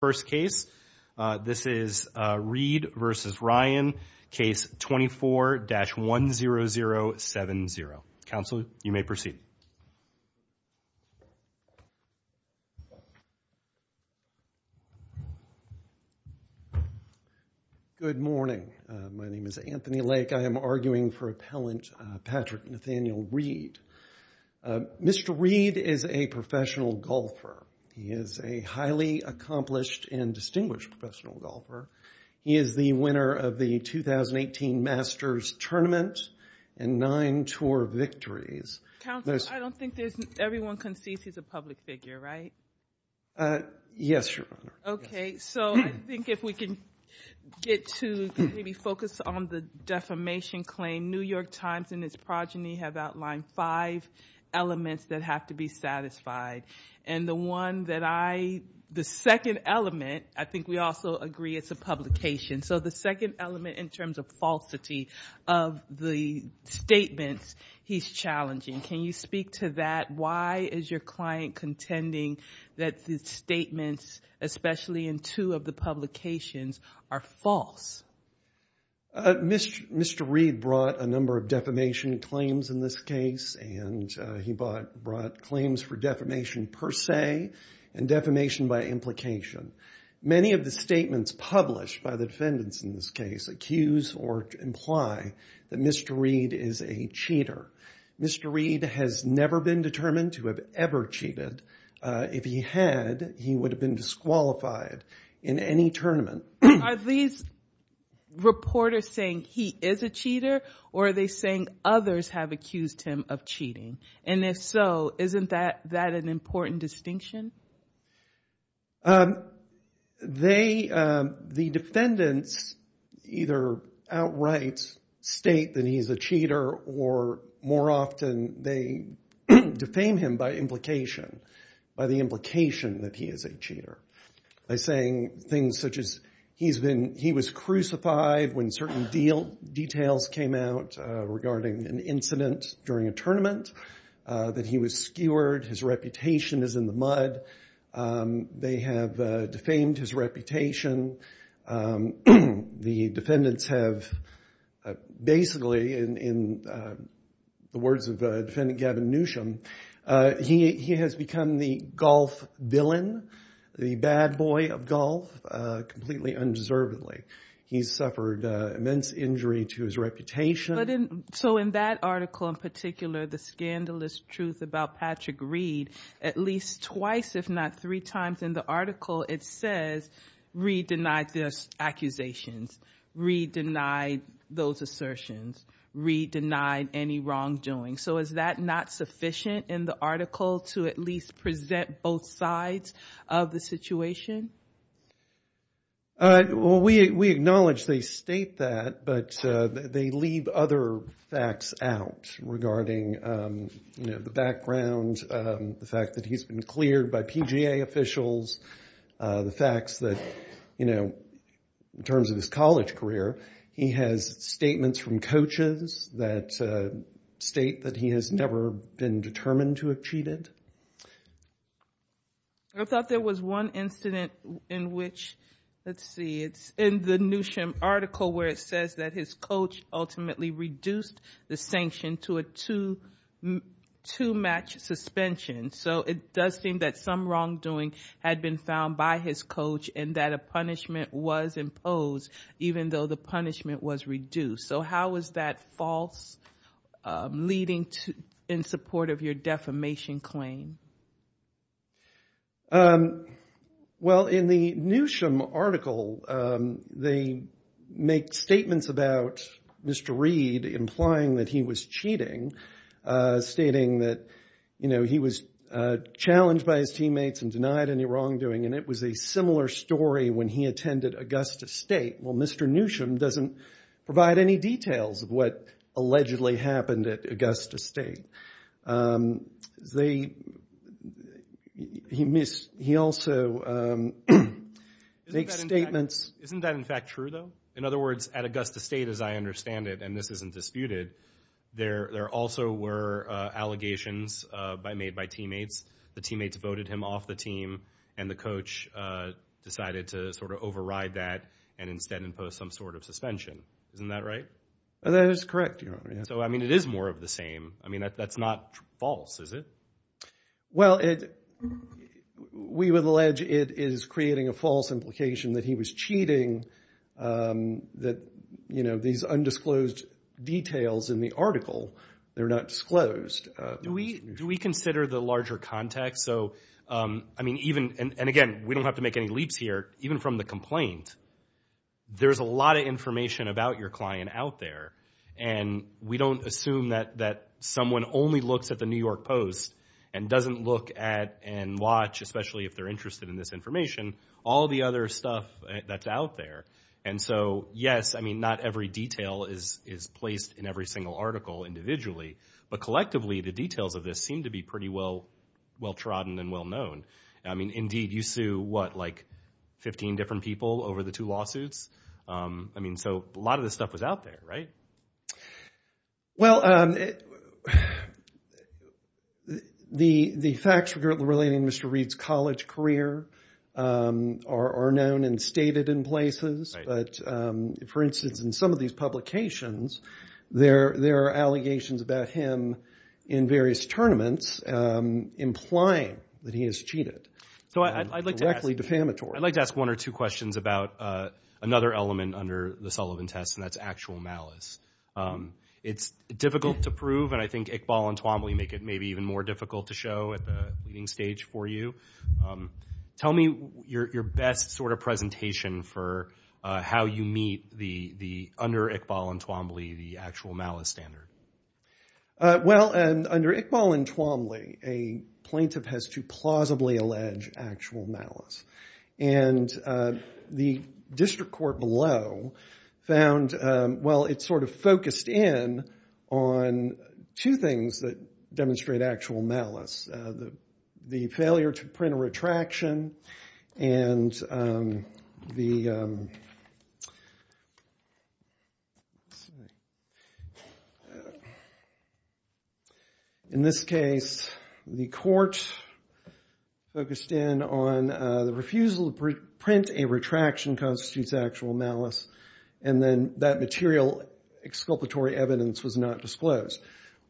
first case this is read versus Ryan case twenty four dash one zero zero seven zero council you may proceed good morning my name is Anthony Lake I am arguing for appellant Patrick Nathaniel Reed Mr. Reed is a professional golfer he is a highly accomplished and distinguished professional golfer he is the winner of the 2018 Masters Tournament and nine tour victories everyone can see he's a public figure right yes okay so I think if we can get to maybe focus on the defamation claim New York Times and its five elements that have to be satisfied and the one that I the second element I think we also agree it's a publication so the second element in terms of falsity of the statements he's challenging can you speak to that why is your client contending that the statements especially in two of the publications are false Mr. Mr. Reed brought a number of defamation claims in this case and he brought claims for defamation per se and defamation by implication many of the statements published by the defendants in this case accuse or imply that Mr. Reed is a cheater Mr. Reed has never been determined to have ever cheated if he had he would have been disqualified in any tournament are these reporters saying he is a cheater or are they saying others have accused him of cheating and if so isn't that that an important distinction they the defendants either outright state that he's a cheater or more often they defame him by implication by the implication that he is a cheater by saying things such as he's been he was crucified when certain deal details came out regarding an incident during a tournament that he was skewered his reputation is in the mud they have defamed his reputation the defendants have basically in the words of the defendant Gavin Newsom he has become the golf villain the bad boy of golf completely undeservedly he's suffered immense injury to his reputation so in that article in particular the scandalous truth about Patrick Reed at least twice if not three times in the article it says re-deny this accusations re-deny those assertions re-deny any wrongdoing so is that not sufficient in the article to at least present both sides of the situation? We acknowledge they state that but they leave other facts out regarding you know the background the fact that he's been cleared by PGA officials the facts that you know in terms of his college career he has statements from coaches that state that he has never been determined to have cheated. I thought there was one incident in which let's see it's in the Newsom article where it says that his coach ultimately reduced the sanction to a two to match suspension so it does seem that some wrongdoing had been found by his coach and that a punishment was imposed even though the punishment was reduced so how was that false leading to in support of your defamation claim? Well in the Newsom article they make statements about Mr. Reed implying that he was cheating stating that you know he was challenged by his teammates and denied any wrongdoing and it was a similar story when he attended Augusta State well Mr. Newsom doesn't provide any details of what allegedly happened at Augusta State. He also makes statements. Isn't that in fact true though? In other words at Augusta State as I understand it and this isn't disputed there there also were allegations made by teammates the teammates voted him off the team and the decided to override that and instead impose some sort of suspension. Isn't that right? That is correct. So I mean it is more of the same I mean that's not false is it? Well it we would allege it is creating a false implication that he was cheating that you know these undisclosed details in the article they're not disclosed. Do we consider the larger context so I mean even and again we don't have to make any leaps here even from the complaint there's a lot of information about your client out there and we don't assume that that someone only looks at the New York Post and doesn't look at and watch especially if they're interested in this information all the other stuff that's out there and so yes I mean not every detail is is placed in every single article individually but collectively the details of this seem to be pretty well well-trodden and well-known I mean indeed you sue what like 15 different people over the two lawsuits I mean so a lot of this stuff was out there right? Well the the facts regarding Mr. Reed's college career are known and stated in places but for instance in some of these publications there there are allegations about him in various tournaments implying that he has cheated so I'd like to actually defamatory. I'd like to ask one or two questions about another element under the Sullivan test and that's actual malice it's difficult to prove and I think Iqbal and Twombly make it maybe even more difficult to show at the leading stage for you tell me your best sort of presentation for how you meet the the under Iqbal and Twombly the actual malice standard. Well and under Iqbal and Twombly a plaintiff has to plausibly allege actual malice and the district court below found well it's sort of focused in on two things that demonstrate actual malice the the failure to retraction and the in this case the court focused in on the refusal to print a retraction constitutes actual malice and then that material exculpatory evidence was not disclosed.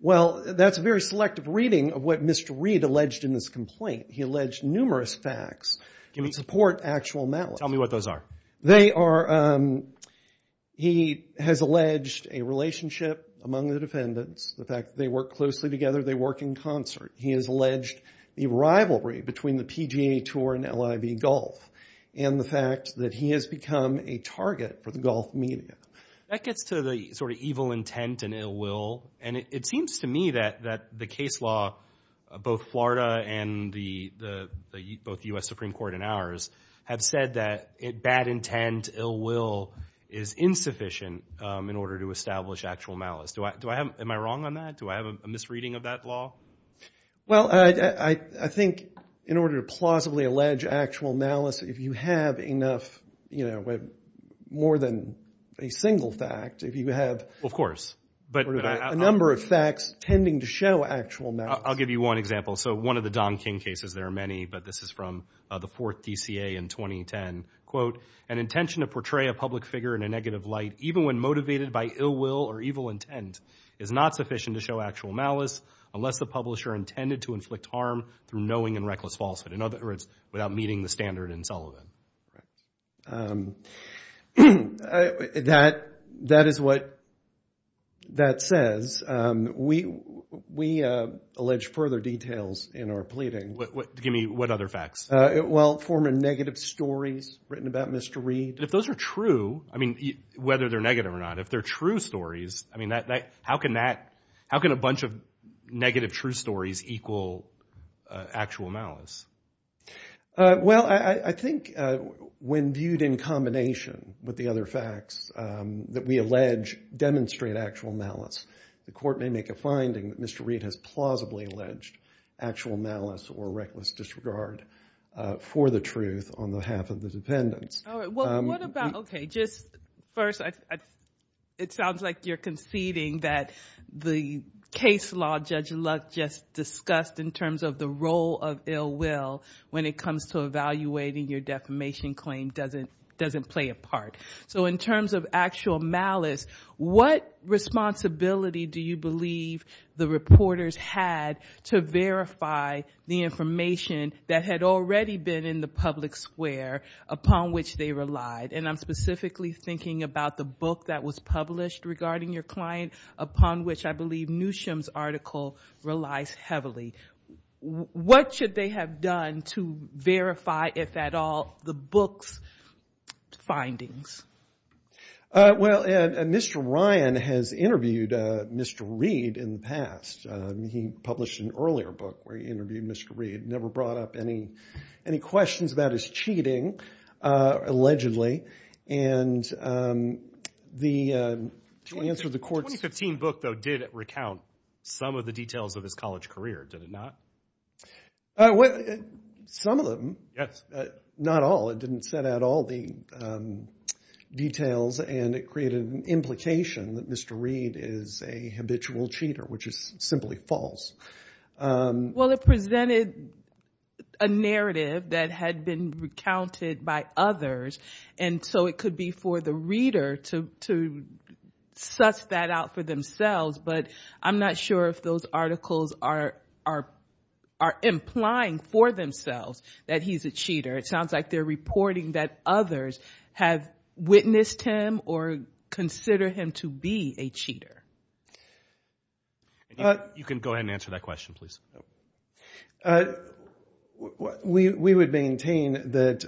Well that's a very reading of what Mr. Reed alleged in this complaint he alleged numerous facts can support actual malice. Tell me what those are. They are he has alleged a relationship among the defendants the fact they work closely together they work in concert he has alleged the rivalry between the PGA tour and LIB golf and the fact that he has become a target for the golf media. That gets to the sort of evil intent and ill will and it seems to me that that the case law both Florida and the both US Supreme Court and ours have said that it bad intent ill will is insufficient in order to establish actual malice. Do I do I have am I wrong on that do I have a misreading of that law? Well I think in order to plausibly allege actual malice if you have enough you know with more than a single fact if you have of course but a number of facts tending to show actual malice. I'll give you one example so one of the Don King cases there are many but this is from the fourth DCA in 2010 quote an intention to portray a public figure in a negative light even when motivated by ill will or evil intent is not sufficient to show actual malice unless the publisher intended to inflict harm through knowing and reckless falsehood in other words without meeting the standard in Sullivan. That that is what that says we we allege further details in our pleading. What give me what other facts? Well former negative stories written about Mr. Reid. If those are true I mean whether they're negative or not if they're true stories I mean that like how can that how can a bunch of negative true stories equal actual malice? Well I think when viewed in combination with the other facts that we allege demonstrate actual malice the court may make a finding that Mr. Reid has plausibly alleged actual malice or reckless disregard for the truth on the half of the defendants. Okay just first it sounds like you're conceding that the case law Judge Luck just discussed in terms of the role of ill will when it comes to evaluating your defamation claim doesn't doesn't play a part. So in terms of actual malice what responsibility do you believe the reporters had to verify the information that had already been in the public square upon which they relied? And I'm specifically thinking about the book that was published regarding your client upon which I believe Newsham's article relies heavily. What should they have done to verify if at all the book's findings? Well Mr. Ryan has interviewed Mr. Reid in the past. He published an earlier book where he interviewed Mr. Reid never brought up any any questions about his cheating allegedly and the answer the court's... The 2015 book though did recount some of the details of his college career did it not? Some of them. Yes. Not all it didn't set out all the details and it created an implication that Mr. Reid is a habitual cheater which is simply false. Well it presented a narrative that had been recounted by others and so it could be for the reader to such that out for themselves but I'm not sure if those articles are are are implying for themselves that he's a cheater. It sounds like they're reporting that others have witnessed him or consider him to be a cheater. You can go ahead and answer that question please. We would maintain that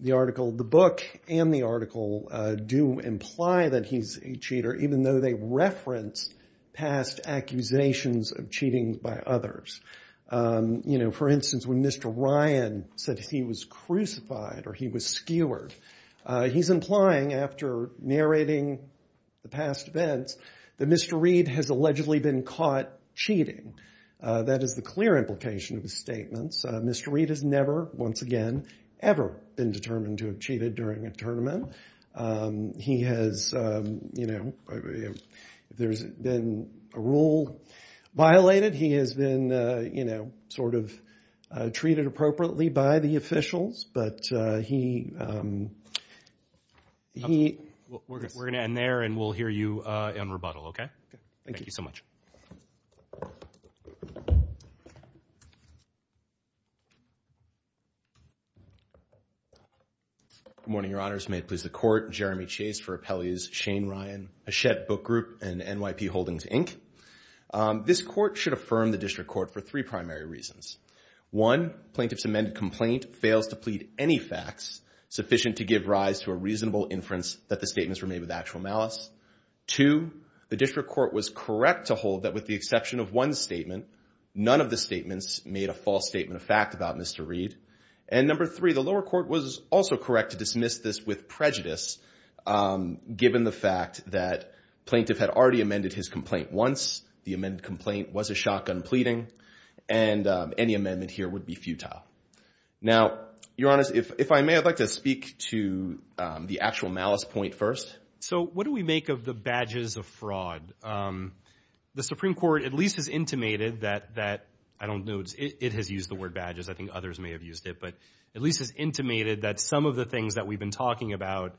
the article the book and the article do imply that he's a cheater even though they reference past accusations of cheating by others. You know for instance when Mr. Ryan said he was crucified or he was skewered he's implying after narrating the past events that Mr. Reid has allegedly been caught cheating. That is the clear implication of his statements. Mr. Reid has never once again ever been determined to have cheated during a tournament. He has you know there's been a rule violated. He has been you know sort of treated appropriately by the officials but he. We're going to end there and we'll hear you in rebuttal. OK. Thank you so much. Good morning Your Honors. May it please the court. Jeremy Chase for Appellee's Shane Ryan Hachette Book Group and NYP Holdings Inc. This court should affirm the district court for three primary reasons. One plaintiff's amended complaint fails to plead any facts sufficient to give rise to a reasonable inference that the statements were made with actual malice. Two the district court was correct to hold that with the exception of one statement none of the made a false statement of fact about Mr. Reid. And number three the lower court was also correct to dismiss this with prejudice given the fact that plaintiff had already amended his complaint once. The amended complaint was a shotgun pleading and any amendment here would be futile. Now Your Honors if I may I'd like to speak to the actual malice point first. So what do we make of the badges of fraud. The Supreme Court at least is intimated that that I don't know it has used the word badges. I think others may have used it but at least is intimated that some of the things that we've been talking about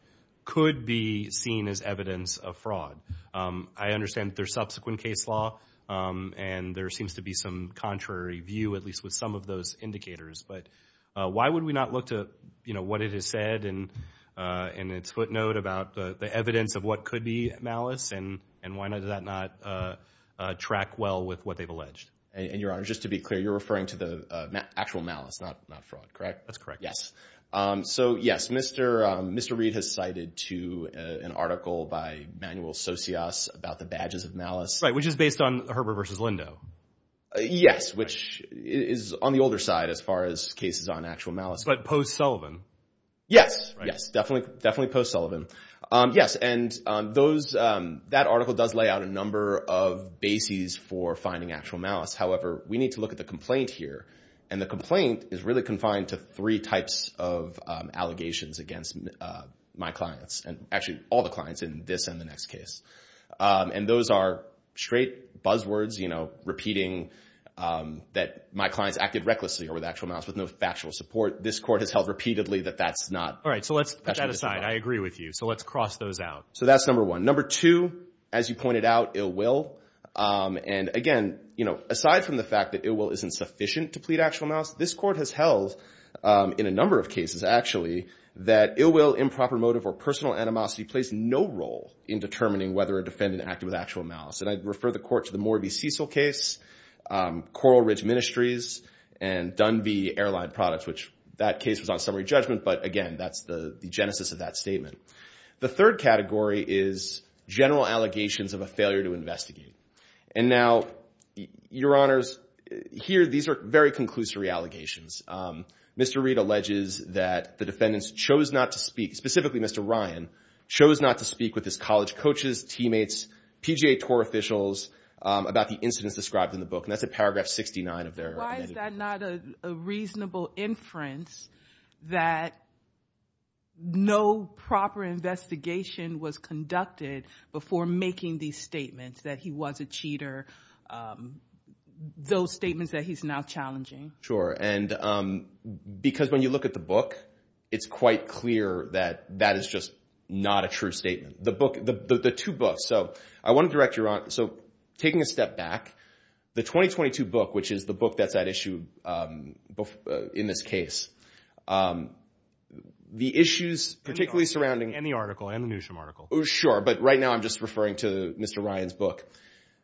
could be seen as evidence of fraud. I understand their subsequent case law and there seems to be some contrary view at least with some of those indicators. But why would we not look to you know what it has said and in its footnote about the evidence of what could be malice and and why not does that not track well with what they've alleged. And Your Honor just to be clear you're referring to the actual malice not fraud correct. That's correct. Yes. So yes Mr. Mr. Reid has cited to an article by manual socios about the badges of malice which is based on Herbert versus Lindo. Yes which is on the older side as far as cases on actual malice but post Sullivan. Yes. Yes I'm not calling actual malice. However we need to look at the complaint here and the complaint is really confined to three types of allegations against my clients and actually all the clients in this and the next case. And those are straight buzz words you know repeating that my clients acted recklessly or with actual malice with no factual support. This court has held repeatedly that that's not all right. So let's put that aside. I agree with you. So let's cross those out. So that's number one number two. As you pointed out it will. And again you know aside from the fact that it will isn't sufficient to plead actual malice. This court has held in a number of cases actually that it will improper motive or personal animosity plays no role in determining whether a defendant acted with actual malice. And I'd refer the court to the Morby Cecil case Coral Ridge Ministries and done the airline products which that case was on summary judgment. But again that's the genesis of that statement. The third category is general allegations of a failure to investigate. And now your honors here these are very conclusory allegations. Mr. Reid alleges that the defendants chose not to speak specifically Mr. Ryan chose not to speak with his college coaches teammates PGA tour officials about the incidents described in the book. And that's a paragraph 69 of their. Why is that not a reasonable inference that no proper investigation was conducted before making these statements that he was a cheater. Those statements that he's now challenging. Sure. And because when you look at the book it's quite clear that that is just not a statement. The book the two books. So I want to direct your on. So taking a step back the 2022 book which is the book that's at issue in this case the issues particularly surrounding any article and the newsroom article. Sure. But right now I'm just referring to Mr. Ryan's book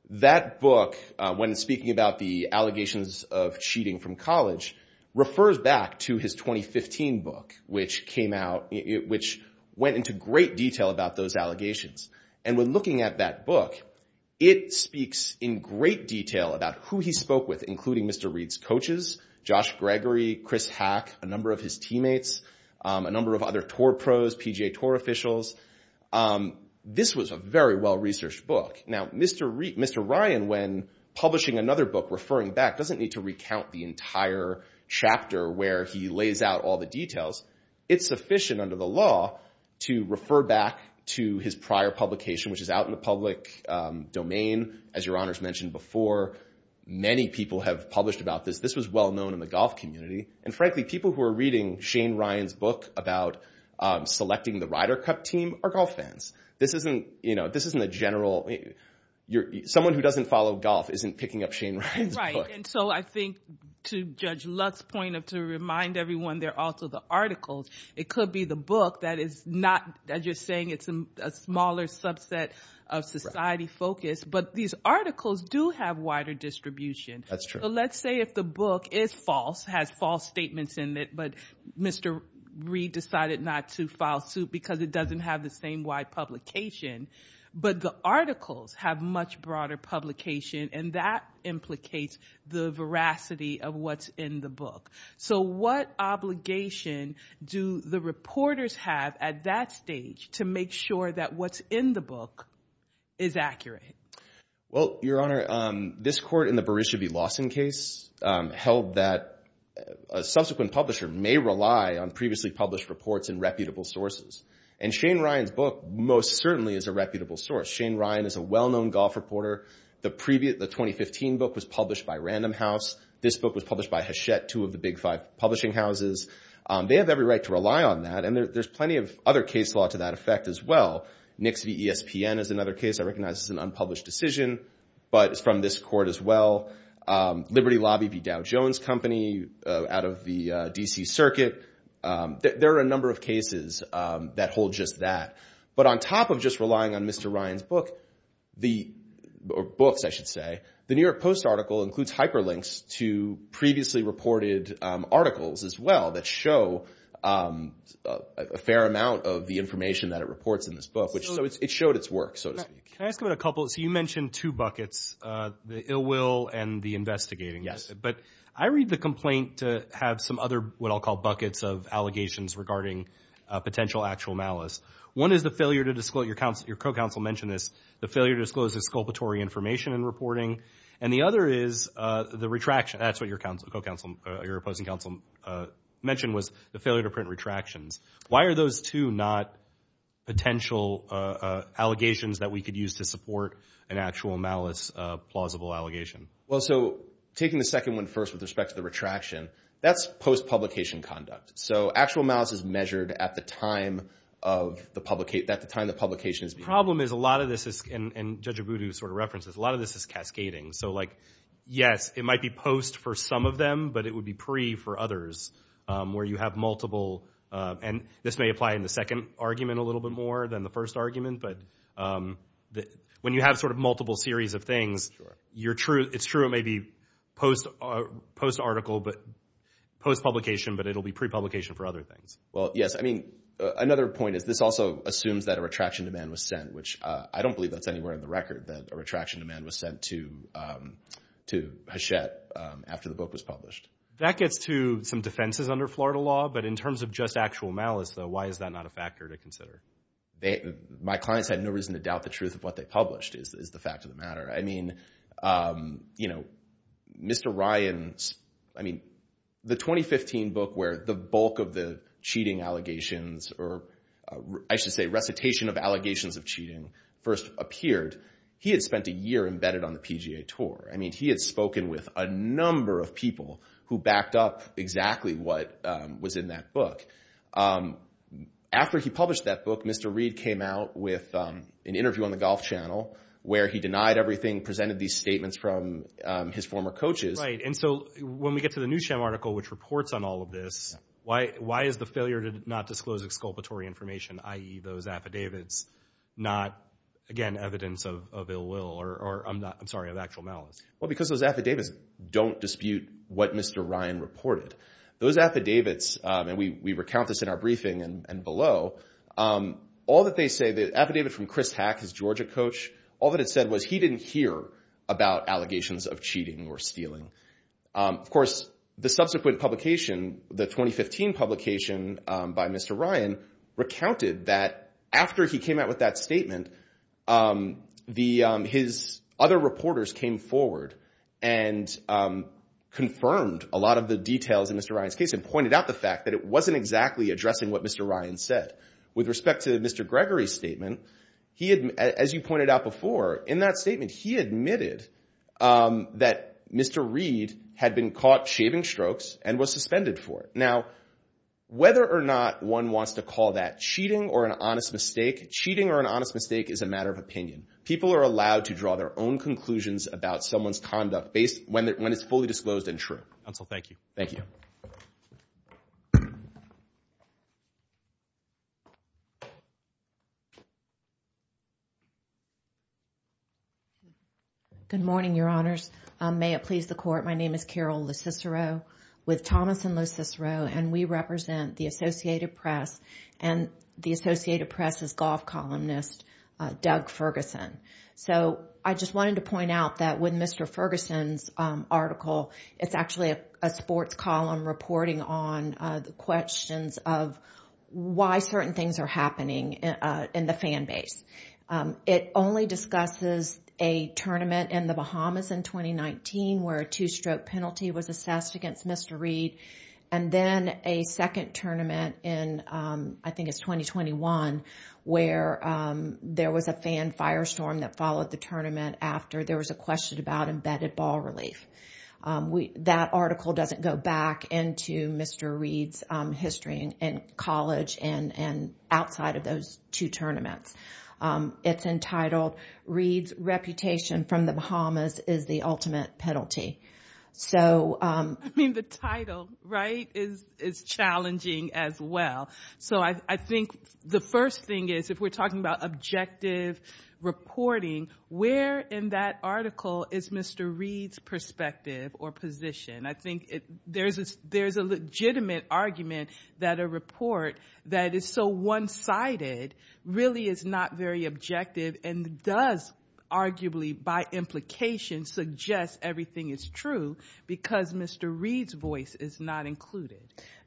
that book when speaking about the allegations of cheating from college refers back to his 2015 book which came out which went into great detail about those allegations. And we're looking at that book. It speaks in great detail about who he spoke with including Mr. Reid's coaches Josh Gregory Chris hack a number of his teammates a number of other tour pros PGA tour officials. This was a very well researched book. Now Mr. Reid Mr. Ryan when publishing another book referring back doesn't need to recount the entire chapter where he lays out all the details. It's sufficient under the law to refer back to his prior publication which is out in the public domain as your honors mentioned before. Many people have published about this. This was well known in the golf community. And frankly people who are reading Shane Ryan's book about selecting the Ryder Cup team are golf fans. This isn't you know this isn't a general you're someone who doesn't follow golf isn't picking up Shane. Right. And so I think to judge Lux's point of to remind everyone they're also the articles. It could be the book that is not that you're saying it's a smaller subset of society focus. But these articles do have wider distribution. That's true. Let's say if the book is false has false statements in it. But Mr. Reid decided not to file suit because it doesn't have the same wide publication. But the articles have much broader publication and that implicates the veracity of what's in the book. So what obligation do the reporters have at that stage to make sure that what's in the book is accurate. Well Your Honor this court in the Berisha B. Lawson case held that a subsequent publisher may rely on previously published reports and reputable sources. And Shane Ryan's book most certainly is a reputable source. Shane Ryan is a well-known golf reporter. The previous 2015 book was published by Random House. This book was published by Hachette two of the big five publishing houses. They have every right to rely on that. And there's plenty of other case law to that effect as well. Nixie ESPN is another case I recognize is an unpublished decision but it's from this court as well. Liberty Lobby Dow Jones Company out of the D.C. circuit. There are a number of cases that hold just that. But on top of just relying on Mr. Ryan's book the books I should say the New York Post article includes hyperlinks to previously reported articles as well that show a fair amount of the information that it contains in this book which it showed its work so to speak. Can I ask about a couple. So you mentioned two buckets the ill will and the investigating. Yes. But I read the complaint to have some other what I'll call buckets of allegations regarding potential actual malice. One is the failure to disclose your counsel your co-counsel mentioned this the failure to disclose the sculptory information in reporting and the other is the retraction. That's what your counsel co-counsel your opposing counsel mentioned was the failure to print retractions. Why are those two not potential allegations that we could use to support an actual malice plausible allegation. Well so taking the second one first with respect to the retraction that's post publication conduct. So actual malice is measured at the time of the public at the time the publication is. The problem is a lot of this is and Judge Abudu sort of references a lot of this is cascading. So like yes it might be post for some of them but it would be pre for others where you have multiple. And this may apply in the second argument a little bit more than the first argument. But when you have sort of multiple series of things you're true it's true it may be post post article but post publication but it'll be prepublication for other things. Well yes I mean another point is this also assumes that a retraction demand was sent which I don't believe that's anywhere in the record that a retraction demand was sent to to Hachette after the book was published. That gets to some defenses under Florida law. But in terms of just actual malice though why is that not a factor to consider. They my clients had no reason to doubt the truth of what they published is the fact of the matter. I mean you know Mr. Ryan's I mean the 2015 book where the bulk of the cheating allegations or I should say recitation of allegations of cheating first appeared. He had spent a year embedded on the PGA Tour. I mean he had spoken with a number of people who backed up exactly what was in that book. After he published that book Mr. Reid came out with an interview on the golf channel where he denied everything presented these statements from his former coaches. And so when we get to the new not disclose exculpatory information i.e. those affidavits not again evidence of ill will or I'm not I'm sorry of actual malice. Well because those affidavits don't dispute what Mr. Ryan reported those affidavits and we recount this in our briefing and below all that they say the affidavit from Chris Hack his Georgia coach. All that it said was he didn't hear about allegations of cheating or stealing. Of course the 2015 publication by Mr. Ryan recounted that after he came out with that statement the his other reporters came forward and confirmed a lot of the details in Mr. Ryan's case and pointed out the fact that it wasn't exactly addressing what Mr. Ryan said. With respect to Mr. Gregory's statement he had as you pointed out before in that statement he admitted that Mr. Reid had been caught shaving strokes and was suspended for it. Now whether or not one wants to call that cheating or an honest mistake. Cheating or an honest mistake is a matter of opinion. People are allowed to draw their own conclusions about someone's conduct based when it's fully disclosed and true. So thank you. Thank you. Good morning, your honors. May it please the court. My name is Carol LoCicero with Thomas & LoCicero and we represent the Associated Press and the Associated Press' golf columnist Doug Ferguson. So I just wanted to point out that with Mr. Ferguson's article it's actually a sports column reporting on the questions of why certain things are happening in the fan base. It only discusses a tournament in the Bahamas in 2019 where a two-stroke penalty was assessed against Mr. Reid and then a second tournament in I think it's 2021 where there was a fan firestorm that after there was a question about embedded ball relief. That article doesn't go back into Mr. Reid's history in college and outside of those two tournaments. It's entitled Reid's Reputation from the Bahamas is the Ultimate Penalty. I mean the title, right, is challenging as well. So I think the first thing is if we're talking about objective reporting, where in that article is Mr. Reid's perspective or position? I think there's a legitimate argument that a report that is so one-sided really is not very objective and does arguably by implication suggest everything is true because Mr. Reid's voice is not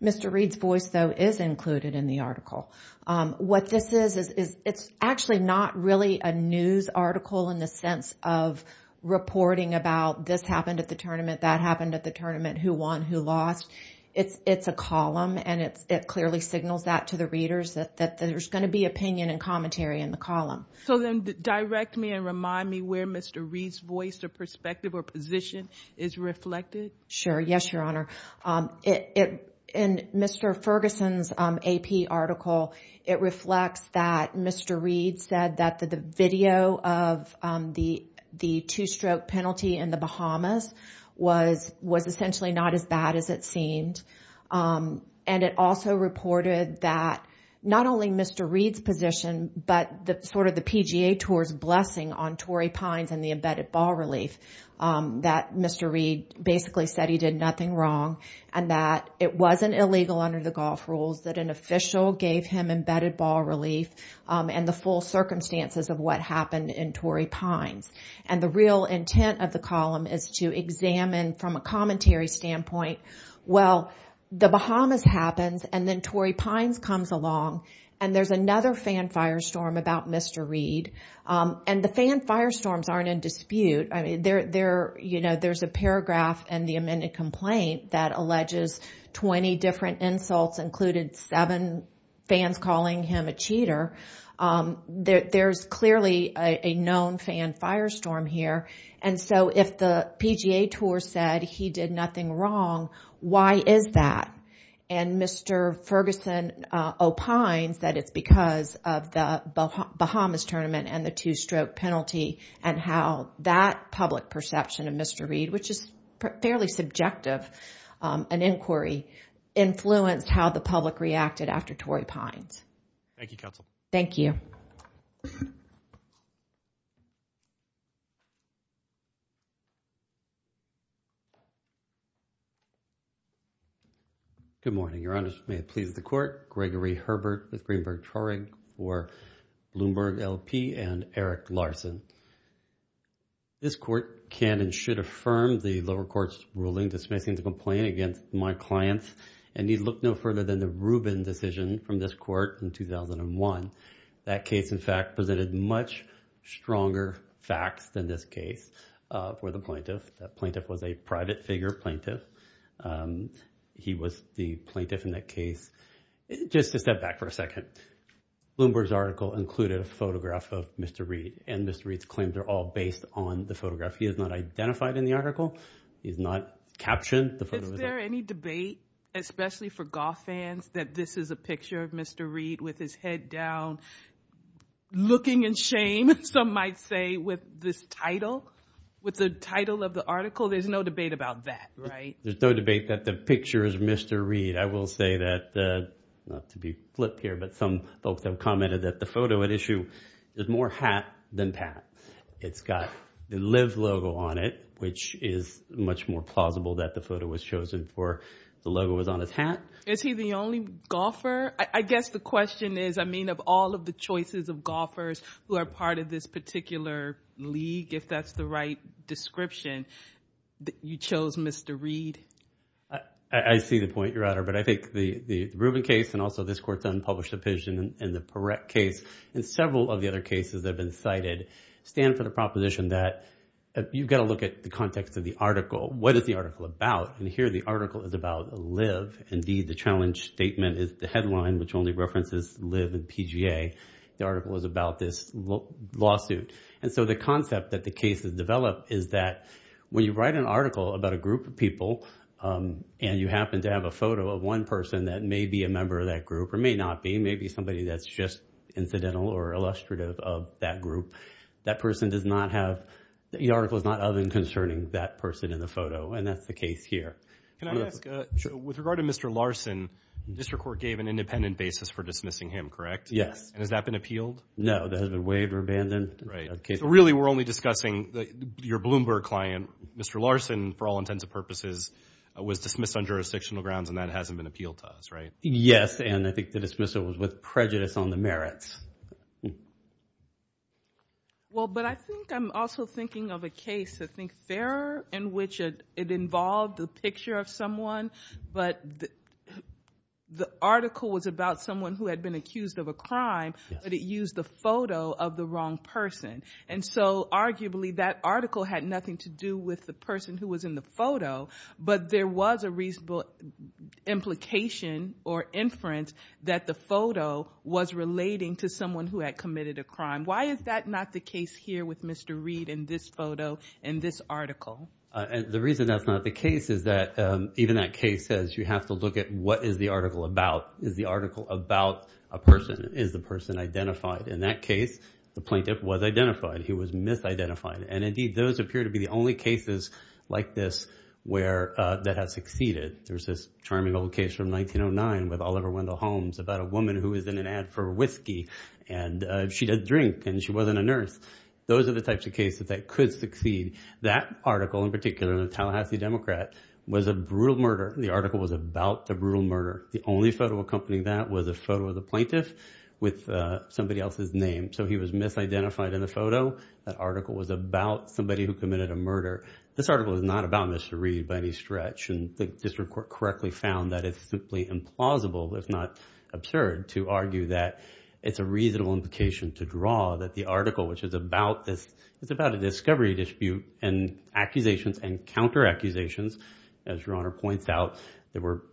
Mr. Reid's voice though is included in the article. What this is is it's actually not really a news article in the sense of reporting about this happened at the tournament, that happened at the tournament, who won, who lost. It's a column and it clearly signals that to the readers that there's going to be opinion and commentary in the column. So then direct me and remind me where Mr. Reid's voice or perspective or position is reflected? Sure. Yes, Your Honor. In Mr. Ferguson's AP article, it reflects that Mr. Reid said that the video of the two-stroke penalty in the Bahamas was essentially not as bad as it seemed. And it also reported that not only Mr. Reid's position but sort of the PGA Tour's blessing on Torrey Pines and the embedded ball relief, that Mr. Reid basically said he did nothing wrong and that it wasn't illegal under the golf rules that an official gave him embedded ball relief and the full circumstances of what happened in Torrey The Bahamas happens and then Torrey Pines comes along and there's another fan firestorm about Mr. Reid. And the fan firestorms aren't in dispute. I mean, there, you know, there's a paragraph in the amended complaint that alleges 20 different insults included seven fans calling him a cheater. There's clearly a known fan firestorm here. And so if the PGA Tour said he did nothing wrong, why is that? And Mr. Ferguson opines that it's because of the Bahamas tournament and the two-stroke penalty and how that public perception of Mr. Reid, which is fairly subjective, an inquiry, influenced how the public reacted after Torrey Pines. Thank you, counsel. Thank you. Good morning, Your Honor. May it please the court. Gregory Herbert with Greenberg Torrey for Bloomberg LP and Eric Larson. This court can and should affirm the lower courts ruling dismissing the complaint against my clients and need look no further than the Rubin decision from this court. In 2001, that case, in fact, presented much stronger facts than this case for the plaintiff. That plaintiff was a private figure plaintiff. He was the plaintiff in that case. Just to step back for a second. Bloomberg's article included a photograph of Mr. Reid and Mr. Reid's claims are all based on the photograph. He is not identified in the article. He's not captioned. Is there any debate, especially for golf fans, that this is a picture of Mr. Reid with his head down, looking in shame, some might say, with this title, with the title of the article? There's no debate about that, right? There's no debate that the picture is Mr. Reid. I will say that not to be flip here, but some folks have commented that the photo at issue is more hat than pat. It's got the live logo on it, which is much more plausible that the photo was chosen for. The logo was on his hat. Is he the only golfer? I guess the question is, I mean, of all of the choices of golfers who are part of this particular league, if that's the right description, you chose Mr. Reid. I see the point, Your Honor, but I think the Rubin case and also this court's unpublished opinion and the Perrette case and several of the other cases that have been cited stand for the proposition that you've got to look at the context of the article. What is the article about? And here the article is about live. Indeed, the challenge statement is the headline, which only references live and PGA. The article is about this lawsuit, and so the concept that the case has developed is that when you write an article about a group of people and you happen to have a photo of one person that may be a member of that group or may not be, may be somebody that's just incidental or illustrative of that group, that person does not have, the article is not of and concerning that person in the photo, and that's the case here. Can I ask, with regard to Mr. Larson, district court gave an independent basis for dismissing him, correct? Yes. And has that been appealed? No, that has been waived or abandoned. Right, so really we're only discussing your Bloomberg client. Mr. Larson, for all intents and purposes, was dismissed on jurisdictional grounds, and that hasn't been appealed to us, right? Yes, and I think the dismissal was with prejudice on the merits. Well, but I think I'm also thinking of a case, I think, Farrer, in which it involved a picture of someone, but the article was about someone who had been accused of a crime, but it used the photo of the wrong person. And so, arguably, that article had nothing to do with the person who was in the photo, but there was a reasonable implication or inference that the photo was relating to someone who had committed a crime. Why is that not the case here with Mr. Reed in this photo, in this article? The reason that's not the case is that even that case says you have to look at what is the article about. Is the article about a person? Is the person identified? In that case, the plaintiff was identified. He was misidentified. And, indeed, those appear to be the only cases like this that have succeeded. There's this charming old case from 1909 with Oliver Wendell Holmes about a woman who was in an ad for whiskey, and she didn't drink, and she wasn't a nurse. Those are the types of cases that could succeed. That article, in particular, the Tallahassee Democrat, was a brutal murder. The article was about a brutal murder. The only photo accompanying that was a photo of the plaintiff with somebody else's name. So he was misidentified in the photo. That article was about somebody who committed a murder. This article is not about Mr. Reed by any stretch, and the district court correctly found that it's simply implausible, if not absurd, to argue that it's a reasonable implication to draw that the article, which is about a discovery dispute and accusations and counter-accusations, as Your Honor points out,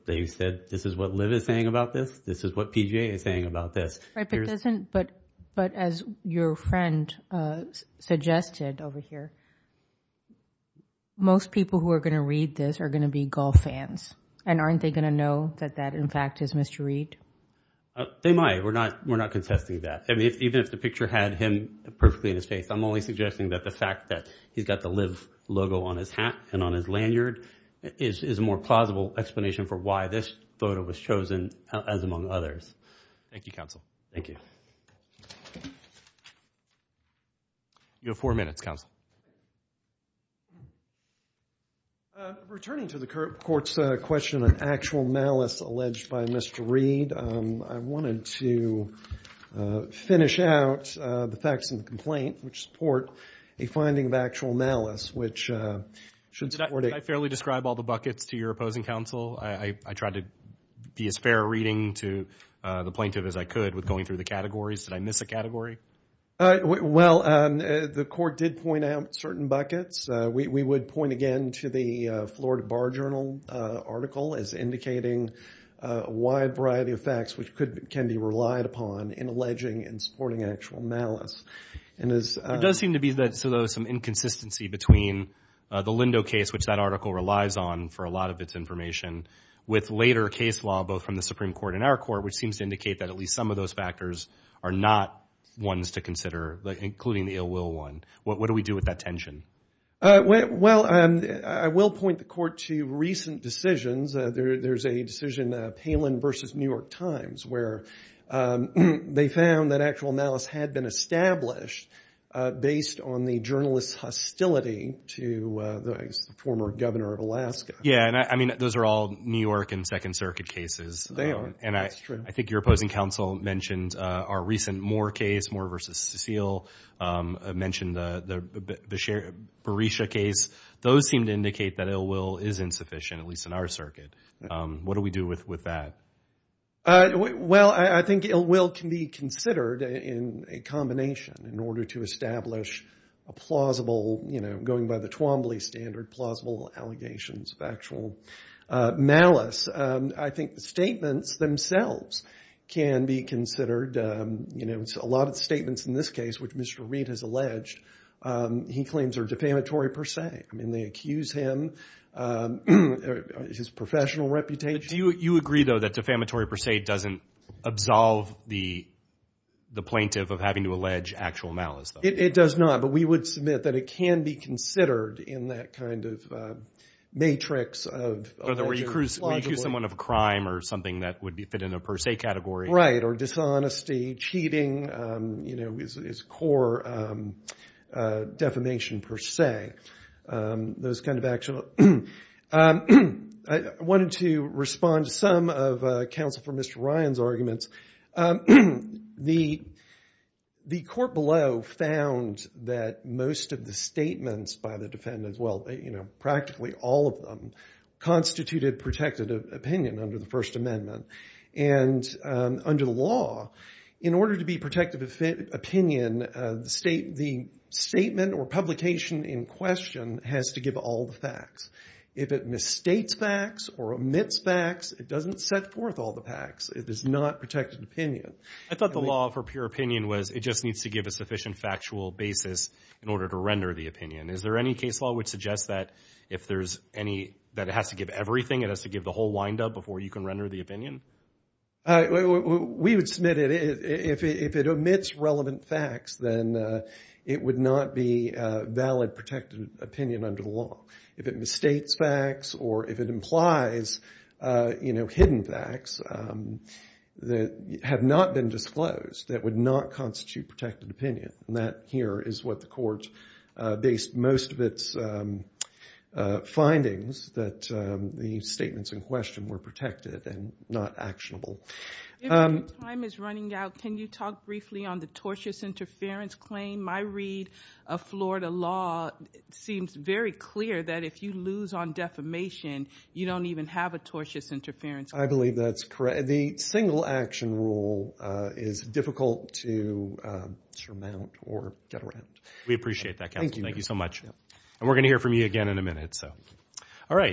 they said, this is what Liv is saying about this. This is what PGA is saying about this. But as your friend suggested over here, most people who are going to read this are going to be golf fans, and aren't they going to know that that, in fact, is Mr. Reed? They might. We're not contesting that. Even if the picture had him perfectly in his face, I'm only suggesting that the fact that he's got the Liv logo on his hat and on his lanyard is a more plausible explanation for why this photo was chosen, as among others. Thank you, counsel. Thank you. You have four minutes, counsel. Returning to the court's question on actual malice alleged by Mr. Reed, I wanted to finish out the facts in the complaint, which support a finding of actual malice, which should support a— Did I fairly describe all the buckets to your opposing counsel? I tried to be as fair a reading to the plaintiff as I could with going through the categories. Did I miss a category? Well, the court did point out certain buckets. We would point again to the Florida Bar Journal article as indicating a wide variety of facts which can be relied upon in alleging and supporting actual malice. There does seem to be some inconsistency between the Lindo case, which that article relies on for a lot of its information, with later case law, both from the Supreme Court and our court, which seems to indicate that at least some of those factors are not ones to consider, including the ill-will one. What do we do with that tension? Well, I will point the court to recent decisions. There's a decision, Palin v. New York Times, where they found that actual malice had been established based on the journalist's hostility to the former governor of Alaska. Yeah, and I mean, those are all New York and Second Circuit cases. They are. That's true. I think your opposing counsel mentioned our recent Moore case, Moore v. Cecile, mentioned the Berisha case. Those seem to indicate that ill-will is insufficient, at least in our circuit. What do we do with that? Well, I think ill-will can be considered in a combination in order to establish a plausible – going by the Twombly standard, plausible allegations of actual malice. I think the statements themselves can be considered – a lot of statements in this case, which Mr. Reid has alleged, he claims are defamatory per se. I mean they accuse him of his professional reputation. Do you agree, though, that defamatory per se doesn't absolve the plaintiff of having to allege actual malice? It does not, but we would submit that it can be considered in that kind of matrix of – Where you accuse someone of a crime or something that would fit in a per se category. Right, or dishonesty, cheating is core defamation per se. I wanted to respond to some of Counsel for Mr. Ryan's arguments. The court below found that most of the statements by the defendants – well, practically all of them – constituted protective opinion under the First Amendment. And under the law, in order to be protective opinion, the statement or publication in question has to give all the facts. If it misstates facts or omits facts, it doesn't set forth all the facts. It is not protective opinion. I thought the law for pure opinion was it just needs to give a sufficient factual basis in order to render the opinion. Is there any case law which suggests that if there's any – that it has to give everything? It has to give the whole wind-up before you can render the opinion? We would submit it. If it omits relevant facts, then it would not be valid protective opinion under the law. If it misstates facts or if it implies hidden facts that have not been disclosed, that would not constitute protective opinion. And that here is what the court based most of its findings that the statements in question were protected and not actionable. If your time is running out, can you talk briefly on the tortious interference claim? My read of Florida law seems very clear that if you lose on defamation, you don't even have a tortious interference claim. I believe that's correct. The single action rule is difficult to surmount or get around. We appreciate that, counsel. Thank you. Thank you so much. And we're going to hear from you again in a minute. All right.